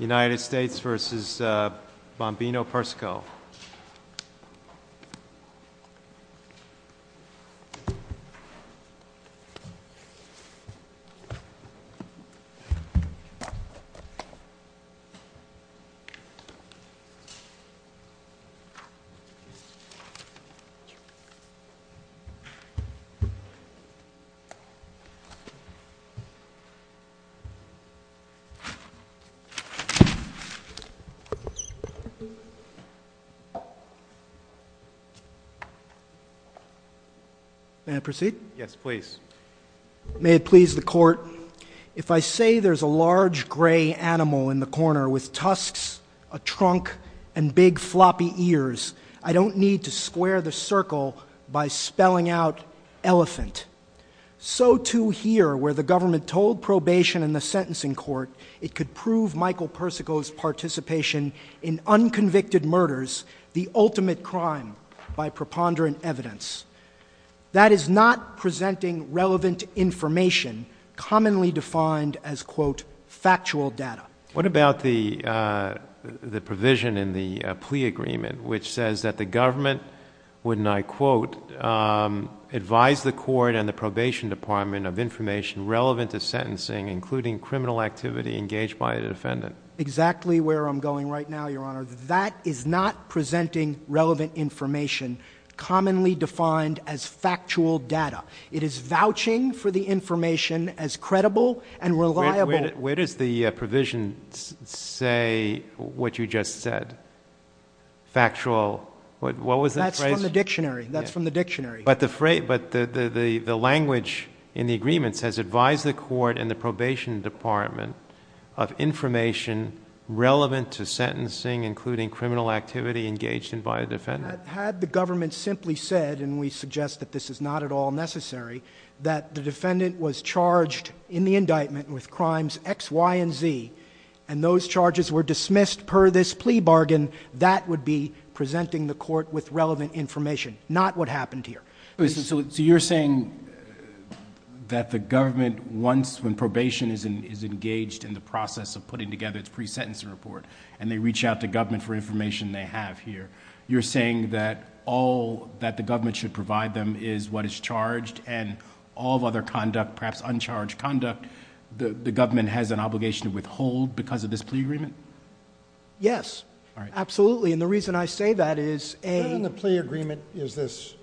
United States v. Bombino-Persico. May it please the court, if I say there's a large gray animal in the corner with tusks, a trunk, and big floppy ears, I don't need to square the circle by spelling out elephant. So too here, where the government told probation and the sentencing court it could prove Michael Persico's participation in unconvicted murders, the ultimate crime, by preponderant evidence. That is not presenting relevant information, commonly defined as, quote, factual data. What about the provision in the plea agreement which says that the government, wouldn't I Department of Information, relevant to sentencing, including criminal activity engaged by the defendant. Exactly where I'm going right now, Your Honor. That is not presenting relevant information, commonly defined as factual data. It is vouching for the information as credible and reliable Where does the provision say what you just said? Factual. What was the phrase? That's from the dictionary. That's from the dictionary. But the language in the agreement says, advise the court and the probation department of information relevant to sentencing, including criminal activity engaged by the defendant. Had the government simply said, and we suggest that this is not at all necessary, that the defendant was charged in the indictment with crimes X, Y, and Z, and those charges were dismissed per this plea bargain, that would be presenting the court with relevant information. Not what happened here. So you're saying that the government, once when probation is engaged in the process of putting together its pre-sentencing report, and they reach out to government for information they have here, you're saying that all that the government should provide them is what is charged, and all other conduct, perhaps uncharged conduct, the government has an obligation to withhold because of this plea agreement? Yes. Absolutely. And the reason I say that is a Why then in the plea agreement does this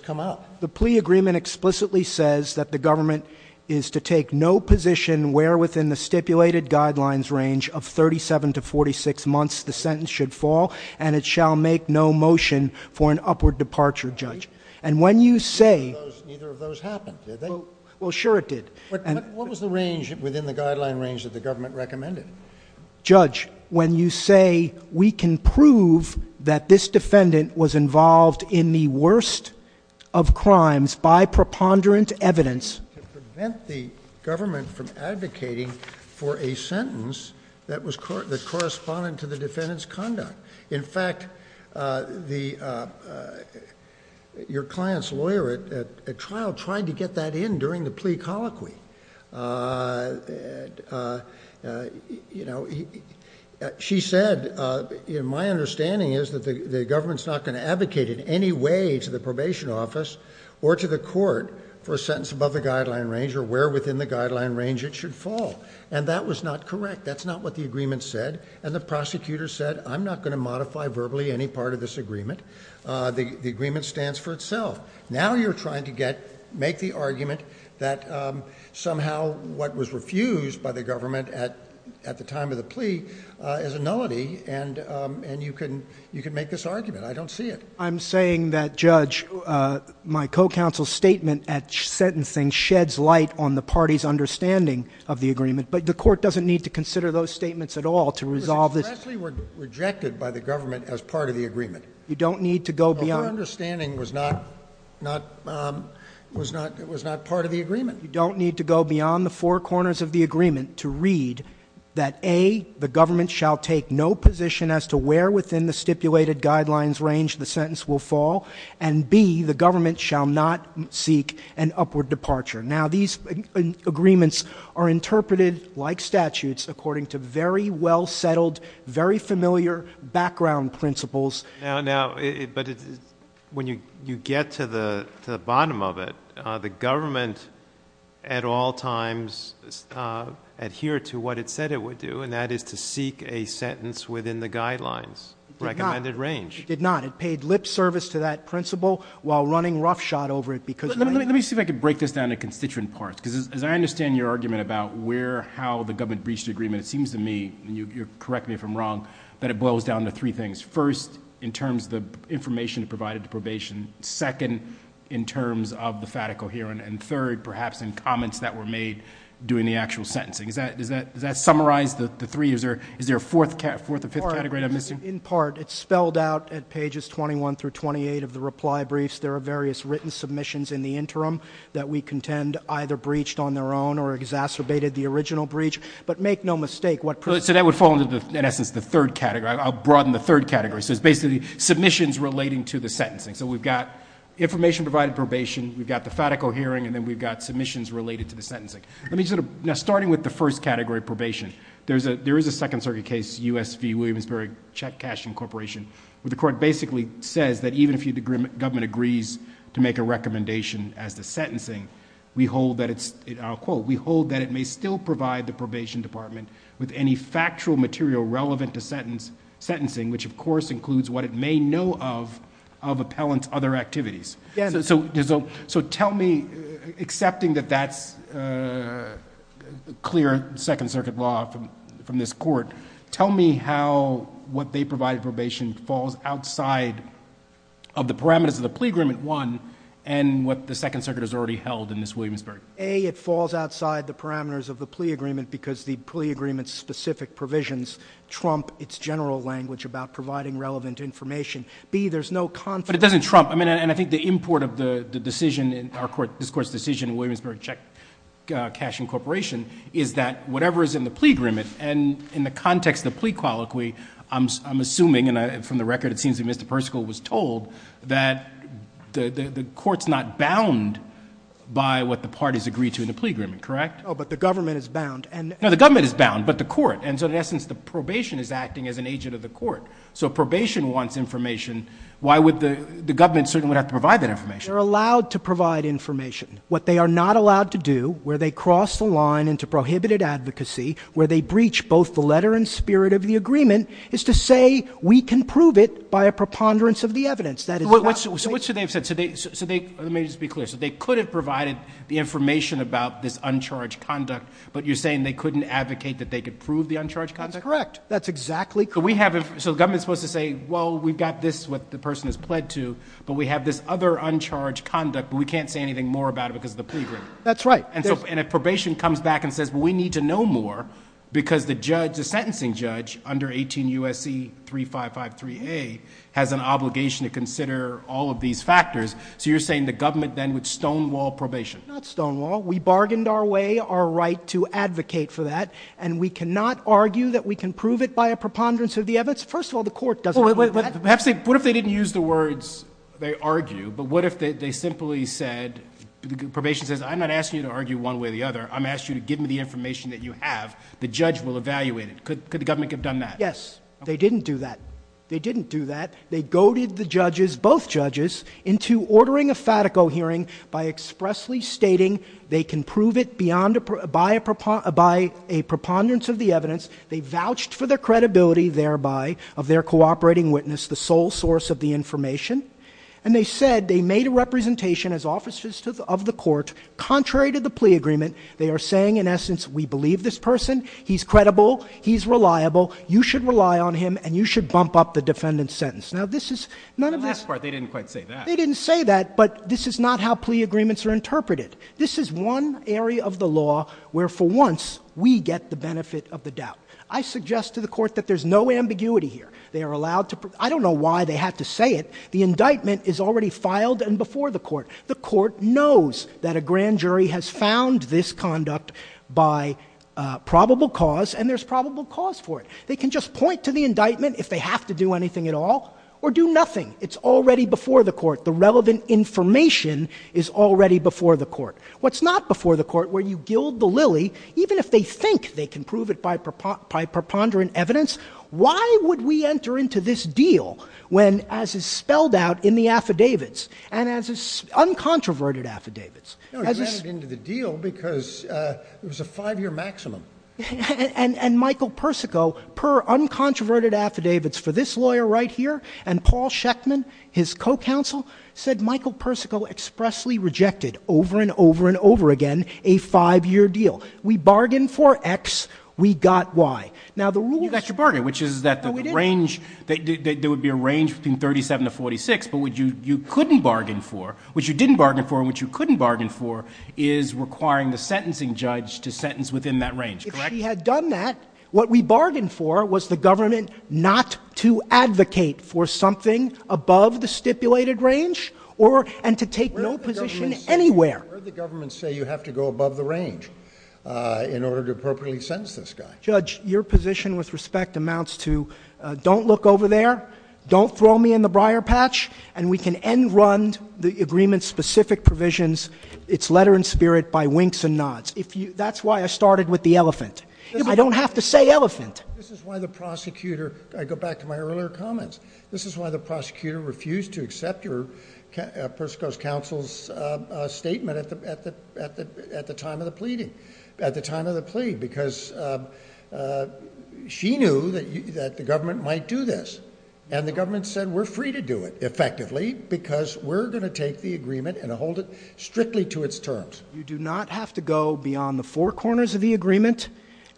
come up? The plea agreement explicitly says that the government is to take no position where within the stipulated guidelines range of 37 to 46 months the sentence should fall, and it shall make no motion for an upward departure, Judge. And when you say Neither of those happened, did they? Well sure it did. What was the range within the guideline range that the government recommended? Judge, when you say we can prove that this defendant was involved in the worst of crimes by preponderant evidence To prevent the government from advocating for a sentence that corresponded to the defendant's conduct. In fact, your client's lawyer at trial tried to get that in during the plea You know, she said, you know, my understanding is that the government's not going to advocate in any way to the probation office or to the court for a sentence above the guideline range or where within the guideline range it should fall. And that was not correct. That's not what the agreement said. And the prosecutor said, I'm not going to modify verbally any part of this agreement. The agreement stands for itself. Now you're trying to get, make the argument that somehow what was refused by the government at the time of the plea is a nullity and you can make this argument. I don't see it. I'm saying that, Judge, my co-counsel's statement at sentencing sheds light on the party's understanding of the agreement. But the court doesn't need to consider those statements at all to resolve this It was expressly rejected by the government as part of the agreement. You don't need to go beyond Well, her understanding was not, not, um, was not, was not part of the agreement. You don't need to go beyond the four corners of the agreement to read that A, the government shall take no position as to where within the stipulated guidelines range the sentence will fall and B, the government shall not seek an upward departure. Now these agreements are interpreted like statutes according to very well settled, very familiar background principles Now, now, but when you, you get to the, to the bottom of it, uh, the government at all times, uh, adhere to what it said it would do and that is to seek a sentence within the guidelines recommended range It did not. It paid lip service to that principle while running roughshod over it because Let me, let me see if I could break this down to constituent parts because as I understand your argument about where, how the government breached the agreement, it seems to me, and you correct me if I'm wrong, that it boils down to three things. First, in terms of the information provided to probation. Second, in terms of the FATA coherent and third, perhaps in comments that were made doing the actual sentencing. Is that, does that, does that summarize the three? Is there, is there a fourth cat, fourth or fifth category I'm missing? In part, it's spelled out at pages 21 through 28 of the reply briefs. There are various written submissions in the interim that we contend either breached on their own or exacerbated the original breach, but make no mistake what So that would fall into the, in essence, the third category. I'll broaden the third category. So it's basically submissions relating to the sentencing. So we've got information provided probation, we've got the FATA coherent, and then we've got submissions related to the sentencing. Let me sort of, now starting with the first category, probation, there's a, there is a second circuit case, U.S. v. Williamsburg Check Cash Incorporation, where the court basically says that even if the government agrees to make a recommendation as to sentencing, we hold that it's, I'll quote, we hold that it may still provide the probation department with any factual material relevant to sentence, sentencing, which of course includes what it may know of, of appellant's other activities. So, so there's a, so tell me, accepting that that's a clear second circuit law from, from this court, tell me how what they provide probation falls outside of the parameters of the plea agreement, one, and what the second circuit has already held in this Williamsburg. A, it falls outside the parameters of the plea agreement because the plea agreement's specific provisions trump its general language about providing relevant information. B, there's no conflict. But it doesn't trump, I mean, and I think the import of the decision in our court, this court's decision in Williamsburg Check Cash Incorporation, is that whatever is in the plea agreement, and in the context of the plea colloquy, I'm, I'm assuming, and I, from the record it seems that Mr. Percival was told, that the, the, the court's not bound by what the parties agreed to in the plea agreement, correct? Oh, but the government is bound, and... No, the government is bound, but the court, and so in essence, the probation is acting as an agent of the court. So probation wants information, why would the, the government certainly would have to provide that information? They're allowed to provide information. What they are not allowed to do, where they cross the line into prohibited advocacy, where they breach both the letter and spirit of the agreement, is to say, we can prove it by a preponderance of the evidence. That is not... So, so what should they have said? So they, so they, let me just be clear, so they could have provided the information about this uncharged conduct, but you're saying they couldn't advocate that they could prove the uncharged conduct? That's correct. That's exactly correct. So we have, so the government's supposed to say, well, we've got this, what the person has pled to, but we have this other uncharged conduct, but we can't say anything more about it because of the plea agreement. That's right. And so, and if probation comes back and says, well, we need to know more, because the judge, the sentencing judge, under 18 U.S.C. 3553A, has an obligation to consider all of these factors. So you're saying the government then would stonewall probation? Not stonewall. We bargained our way, our right to advocate for that, and we cannot argue that we can prove it by a preponderance of the evidence. First of all, the court doesn't want that. Perhaps they, what if they didn't use the words, they argue, but what if they, they simply said, probation says, I'm not asking you to argue one way or the other. I'm asking you to give me the information that you have. The judge will evaluate it. Could the government have done that? Yes. They didn't do that. They didn't do that. They goaded the judges, both judges, into ordering a FATICO hearing by expressly stating they can prove it beyond, by a preponderance of the evidence. They vouched for their credibility thereby of their cooperating witness, the sole source of the information. And they said they made a representation as officers of the court, contrary to the plea agreement. They are saying, in essence, we believe this person. He's credible. He's reliable. You should rely on him, and you should bump up the defendant's sentence. Now, this is, none of this- In the last part, they didn't quite say that. They didn't say that, but this is not how plea agreements are interpreted. This is one area of the law where, for once, we get the benefit of the doubt. I suggest to the court that there's no ambiguity here. They are allowed to, I don't know why they had to say it. The court knows that a grand jury has found this conduct by probable cause, and there's probable cause for it. They can just point to the indictment if they have to do anything at all or do nothing. It's already before the court. The relevant information is already before the court. What's not before the court, where you gild the lily, even if they think they can prove it by preponderant evidence, why would we enter into this deal when, as is spelled out in the affidavits, and as is, uncontroverted affidavits? No, he entered into the deal because it was a five-year maximum. And Michael Persico, per uncontroverted affidavits for this lawyer right here, and Paul Schechtman, his co-counsel, said Michael Persico expressly rejected, over and over and over again, a five-year deal. We bargained for X, we got Y. Now the rule- You got your bargain, which is that the range- No, we didn't. But what you couldn't bargain for, what you didn't bargain for, and what you couldn't bargain for, is requiring the sentencing judge to sentence within that range, correct? If she had done that, what we bargained for was the government not to advocate for something above the stipulated range, or, and to take no position anywhere. Where did the government say you have to go above the range in order to appropriately sentence this guy? Judge, your position with respect amounts to, don't look over there, don't throw me in the briar patch, and we can end-run the agreement's specific provisions, its letter in spirit, by winks and nods. That's why I started with the elephant. I don't have to say elephant. This is why the prosecutor, I go back to my earlier comments, this is why the prosecutor refused to accept your, Persico's counsel's statement at the time of the plea, because she knew that the government might do this. And the government said we're free to do it, effectively, because we're going to take the agreement and hold it strictly to its terms. You do not have to go beyond the four corners of the agreement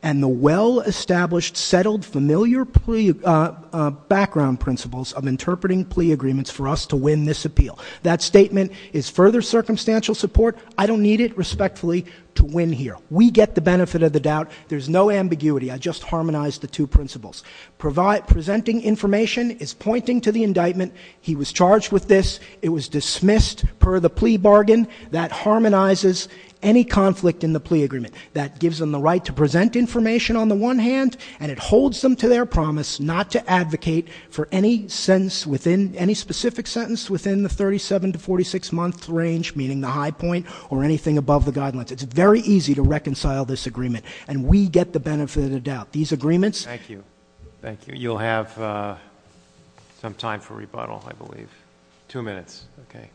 and the well-established, settled, familiar plea background principles of interpreting plea agreements for us to win this appeal. That statement is further circumstantial support. I don't need it, respectfully, to win here. We get the benefit of the doubt. There's no ambiguity. I just harmonized the two principles. Presenting information is pointing to the indictment. He was charged with this. It was dismissed per the plea bargain. That harmonizes any conflict in the plea agreement. That gives them the right to present information on the one hand, and it holds them to their promise not to advocate for any sentence within, any specific sentence within the 37 to 46 month range, meaning the high point, or anything above the guidelines. It's very easy to reconcile this agreement, and we get the benefit of the doubt. These agreements... Thank you. Thank you. You'll have some time for rebuttal, I believe. Two minutes. Okay.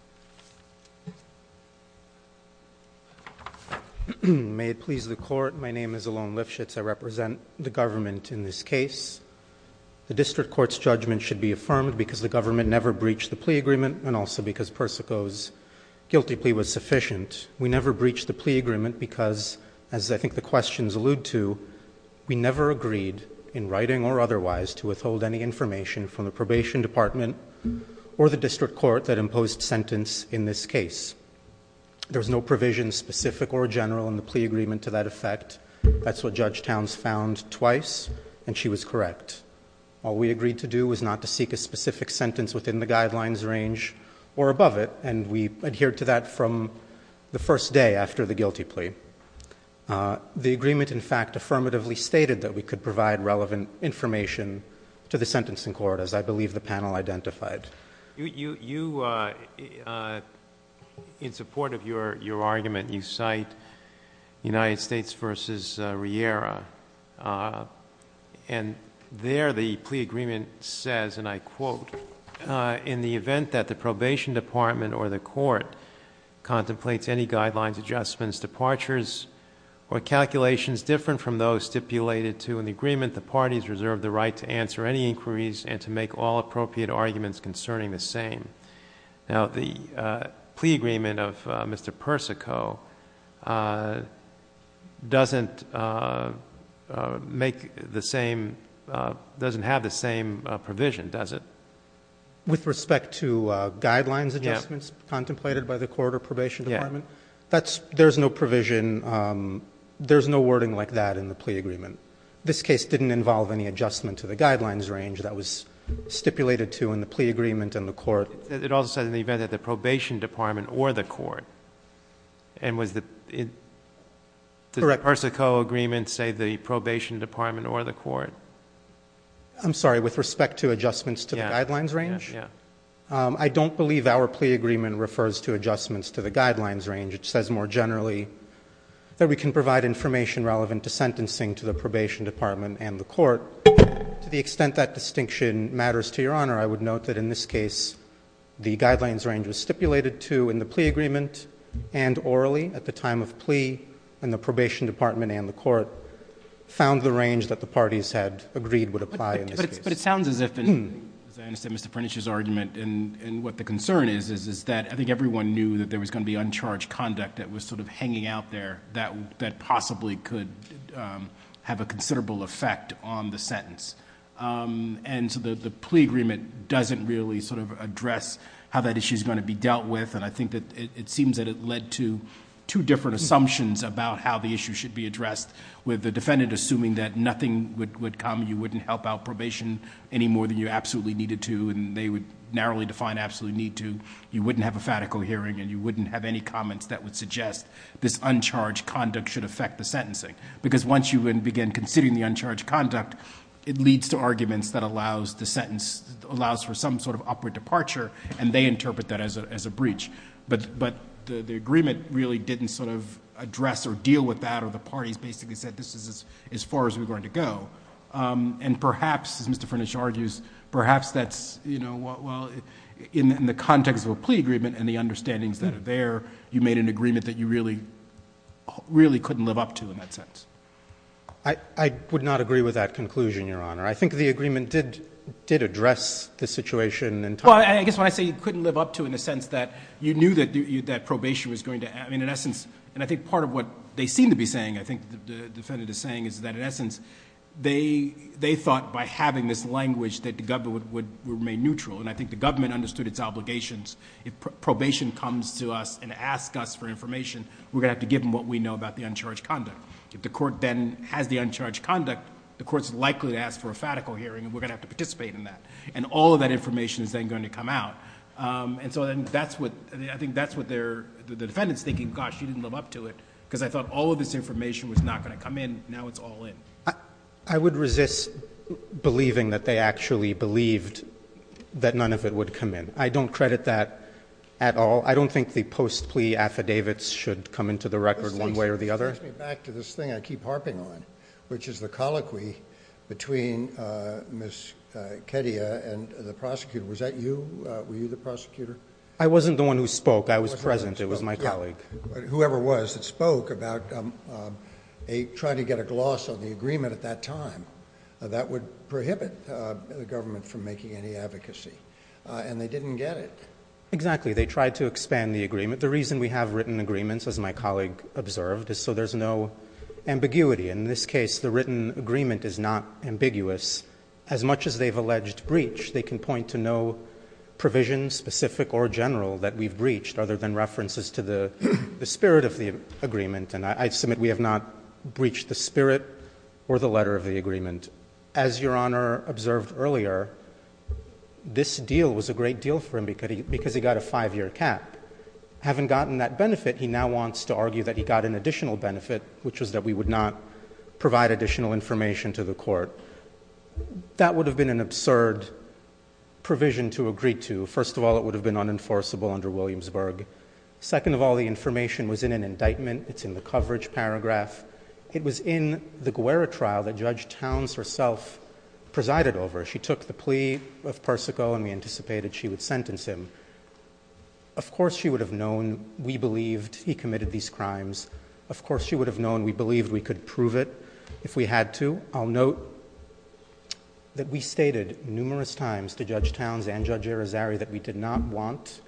May it please the Court, my name is Elon Lifshitz. I represent the government in this case. The district court's judgment should be affirmed because the government never breached the Guilty plea was sufficient. We never breached the plea agreement because, as I think the questions allude to, we never agreed, in writing or otherwise, to withhold any information from the probation department or the district court that imposed sentence in this case. There's no provision, specific or general, in the plea agreement to that effect. That's what Judge Towns found twice, and she was correct. All we agreed to do was not to seek a specific sentence within the guidelines range or above it, and we adhered to that from the first day after the Guilty plea. The agreement, in fact, affirmatively stated that we could provide relevant information to the sentencing court, as I believe the panel identified. In support of your argument, you cite United States, quote, in the event that the probation department or the court contemplates any guidelines, adjustments, departures, or calculations different from those stipulated to in the agreement the parties reserve the right to answer any inquiries and to make all appropriate arguments concerning the same. Now, the plea agreement of Mr. Persico doesn't make the same, doesn't have the same provision, does it? With respect to guidelines adjustments contemplated by the court or probation department? Yeah. There's no provision, there's no wording like that in the plea agreement. This case didn't involve any adjustment to the guidelines range that was stipulated to in the plea agreement and the court. It also said in the event that the probation department or the court, and was the, did the Persico agreement say the I'm sorry, with respect to adjustments to the guidelines range? Yeah. I don't believe our plea agreement refers to adjustments to the guidelines range. It says more generally that we can provide information relevant to sentencing to the probation department and the court. To the extent that distinction matters to your honor, I would note that in this case, the guidelines range was stipulated to in the plea agreement and orally at the time of plea and the probation department and the court found the range that the parties had agreed would apply in this case. But it sounds as if, as I understand Mr. Prentice's argument and what the concern is, is that I think everyone knew that there was going to be uncharged conduct that was sort of hanging out there that possibly could have a considerable effect on the sentence. The plea agreement doesn't really sort of address how that issue is going to be dealt with and I think that it seems that it led to two different assumptions about how the issue should be addressed with the defendant assuming that nothing would come, you wouldn't help out probation any more than you absolutely needed to and they would narrowly define absolutely need to. You wouldn't have a fatical hearing and you wouldn't have any comments that would suggest this uncharged conduct should affect the sentencing. Because once you begin considering the uncharged conduct, it leads to arguments that allows the sentence, allows for some sort of upward departure and they interpret that as a breach. But the agreement really didn't sort of address or deal with that or the parties basically said this is as far as we're going to go. And perhaps, as Mr. Prentice argues, perhaps that's, you know, well, in the context of a plea agreement and the understandings that are there, you made an agreement that you really couldn't live up to in that sense. I would not agree with that conclusion, Your Honor. I think the agreement did address the You knew that probation was going to, I mean, in essence, and I think part of what they seem to be saying, I think the defendant is saying, is that in essence, they thought by having this language that the government would remain neutral. And I think the government understood its obligations. If probation comes to us and asks us for information, we're going to have to give them what we know about the uncharged conduct. If the court then has the uncharged conduct, the court's likely to ask for a fatical hearing and we're going to have to participate in that. And all of that information is then going to come out. And so then that's what, I think that's what they're, the defendant's thinking, gosh, you didn't live up to it because I thought all of this information was not going to come in. Now it's all in. I would resist believing that they actually believed that none of it would come in. I don't credit that at all. I don't think the post-plea affidavits should come into the record one way or the other. This brings me back to this thing I keep harping on, which is the colloquy between Ms. Kedia and the prosecutor. Was that you? Were you the prosecutor? I wasn't the one who spoke. I was present. It was my colleague. Whoever it was that spoke about trying to get a gloss on the agreement at that time. That would prohibit the government from making any advocacy. And they didn't get it. Exactly. They tried to expand the agreement. The reason we have written agreements, as my colleague observed, is so there's no ambiguity. In this case, the written agreement is not specific or general that we've breached other than references to the spirit of the agreement. And I submit we have not breached the spirit or the letter of the agreement. As Your Honor observed earlier, this deal was a great deal for him because he got a five-year cap. Having gotten that benefit, he now wants to argue that he got an additional benefit, which was that we would not provide additional information to the court. That would have been an absurd provision to agree to. First of all, it would have been unenforceable under Williamsburg. Second of all, the information was in an indictment. It's in the coverage paragraph. It was in the Guerra trial that Judge Towns herself presided over. She took the plea of Persico and we anticipated she would sentence him. Of course she would have known we believed he committed these crimes. Of course she would have known we believed we could prove it if we had to. I'll note that we stated numerous times to Judge Towns and Judge Irizarry that we did not want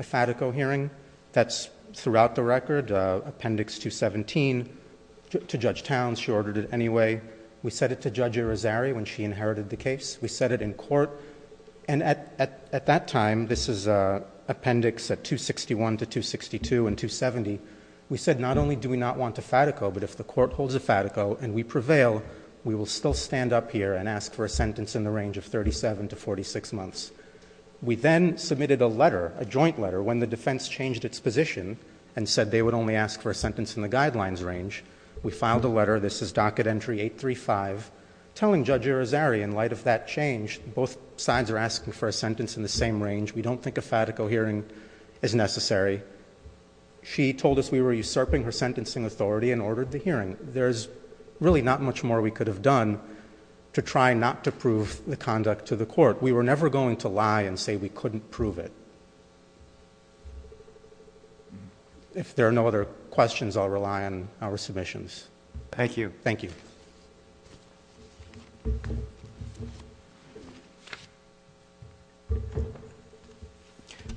a FATICO hearing. That's throughout the record, Appendix 217 to Judge Towns. She ordered it anyway. We said it to Judge Irizarry when she inherited the case. We said it in court. And at that time, this is Appendix 261 to 262 and 270, we said not only do we not want a FATICO, but if the court holds a FATICO and we prevail, we will still stand up here and ask for a sentence in the range of 37 to 46 months. We then submitted a letter, a joint letter, when the defense changed its position and said they would only ask for a sentence in the guidelines range. We filed a letter, this is docket entry 835, telling Judge Irizarry in light of that change both sides are asking for a sentence in the same range. We don't think a FATICO hearing is necessary. She told us we were usurping her sentencing authority and ordered the hearing. There's really not much more we could have done to try not to prove the conduct to the court. We were never going to lie and say we couldn't prove it. If there are no other questions, I'll rely on our submissions. Thank you. Thank you.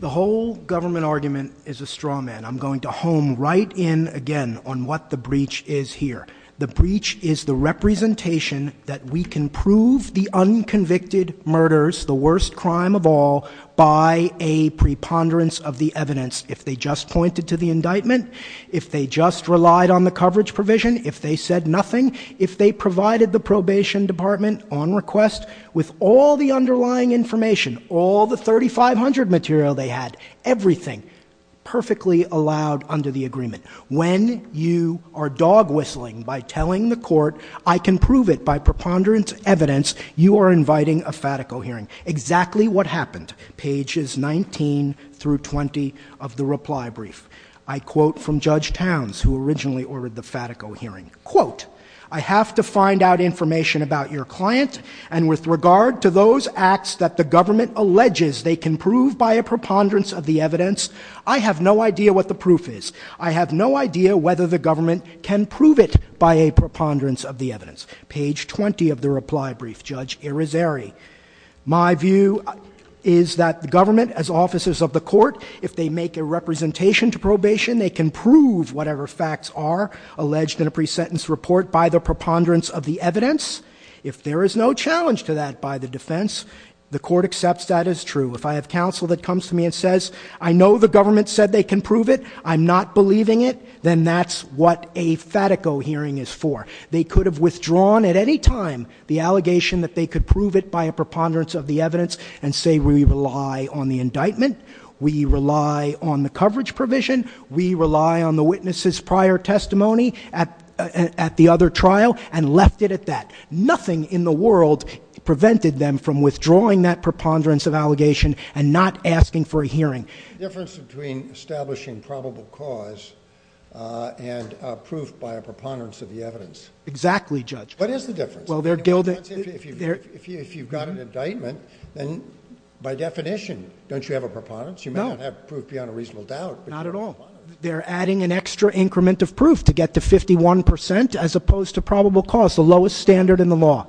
The whole government argument is a straw man. I'm going to home right in again on what the breach is here. The breach is the representation that we can prove the unconvicted murders, the worst crime of all, by a preponderance of the evidence. If they just pointed to the nothing, if they provided the probation department on request with all the underlying information, all the 3500 material they had, everything, perfectly allowed under the agreement. When you are dog whistling by telling the court I can prove it by preponderance evidence, you are inviting a FATICO hearing. Exactly what happened. Pages 19 through 20 of the report. I have to find out information about your client and with regard to those acts that the government alleges they can prove by a preponderance of the evidence, I have no idea what the proof is. I have no idea whether the government can prove it by a preponderance of the evidence. Page 20 of the reply brief, Judge Irizarry. My view is that the government as officers of the court, if they make a representation to probation, they can prove whatever facts are alleged in a pre-sentence report by the preponderance of the evidence. If there is no challenge to that by the defense, the court accepts that as true. If I have counsel that comes to me and says I know the government said they can prove it, I'm not believing it, then that's what a FATICO hearing is for. They could have withdrawn at any time the allegation that they could prove it by a preponderance of the evidence and say we rely on the indictment, we rely on the coverage provision, we rely on the witness's prior testimony at the other trial and left it at that. Nothing in the world prevented them from withdrawing that preponderance of allegation and not asking for a hearing. The difference between establishing probable cause and proof by a preponderance of the evidence. Exactly, Judge. What is the difference? You may not have proof beyond a reasonable doubt. Not at all. They're adding an extra increment of proof to get to 51% as opposed to probable cause, the lowest standard in the law.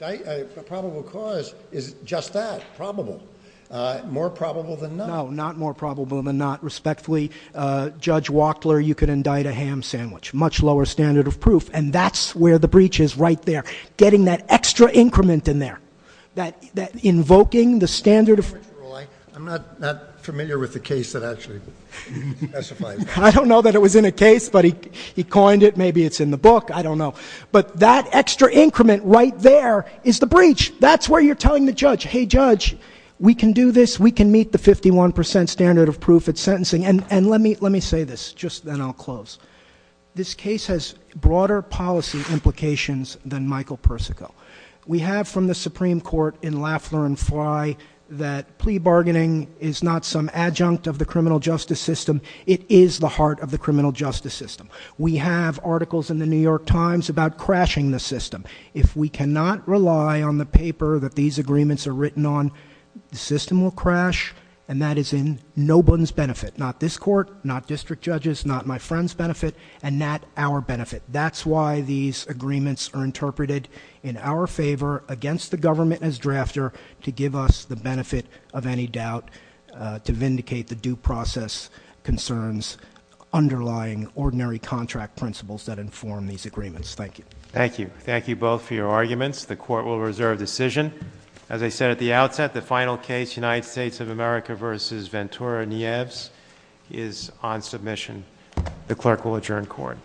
A probable cause is just that, probable. More probable than not. No, not more probable than not. Respectfully, Judge Wachtler, you could indict a ham sandwich. Much lower standard of proof and that's where the breach is right there. Getting that extra increment right there is the breach. That's where you're telling the judge, hey judge, we can do this, we can meet the 51% standard of proof at sentencing. And let me say this just then I'll close. This case has broader policy implications than Michael Persico. We have from the Supreme Court in Lafler and Fly that plea bargaining is not some adjunct of the criminal justice system. It is the heart of the criminal justice system. We have articles in the New York Times about crashing the system. If we cannot rely on the paper that these agreements are written on, the system will crash and that is in no one's benefit. Not this court, not district judges, not my friend's benefit and not our benefit. That's why these agreements are interpreted in our favor against the government as drafter to give us the benefit of any doubt to vindicate the due process concerns underlying ordinary contract principles that inform these agreements. Thank you. Thank you. Thank you both for your arguments. The court will reserve decision. As I said at the outset, the final case, United States of America v. Ventura Nieves is on submission. The clerk will adjourn court.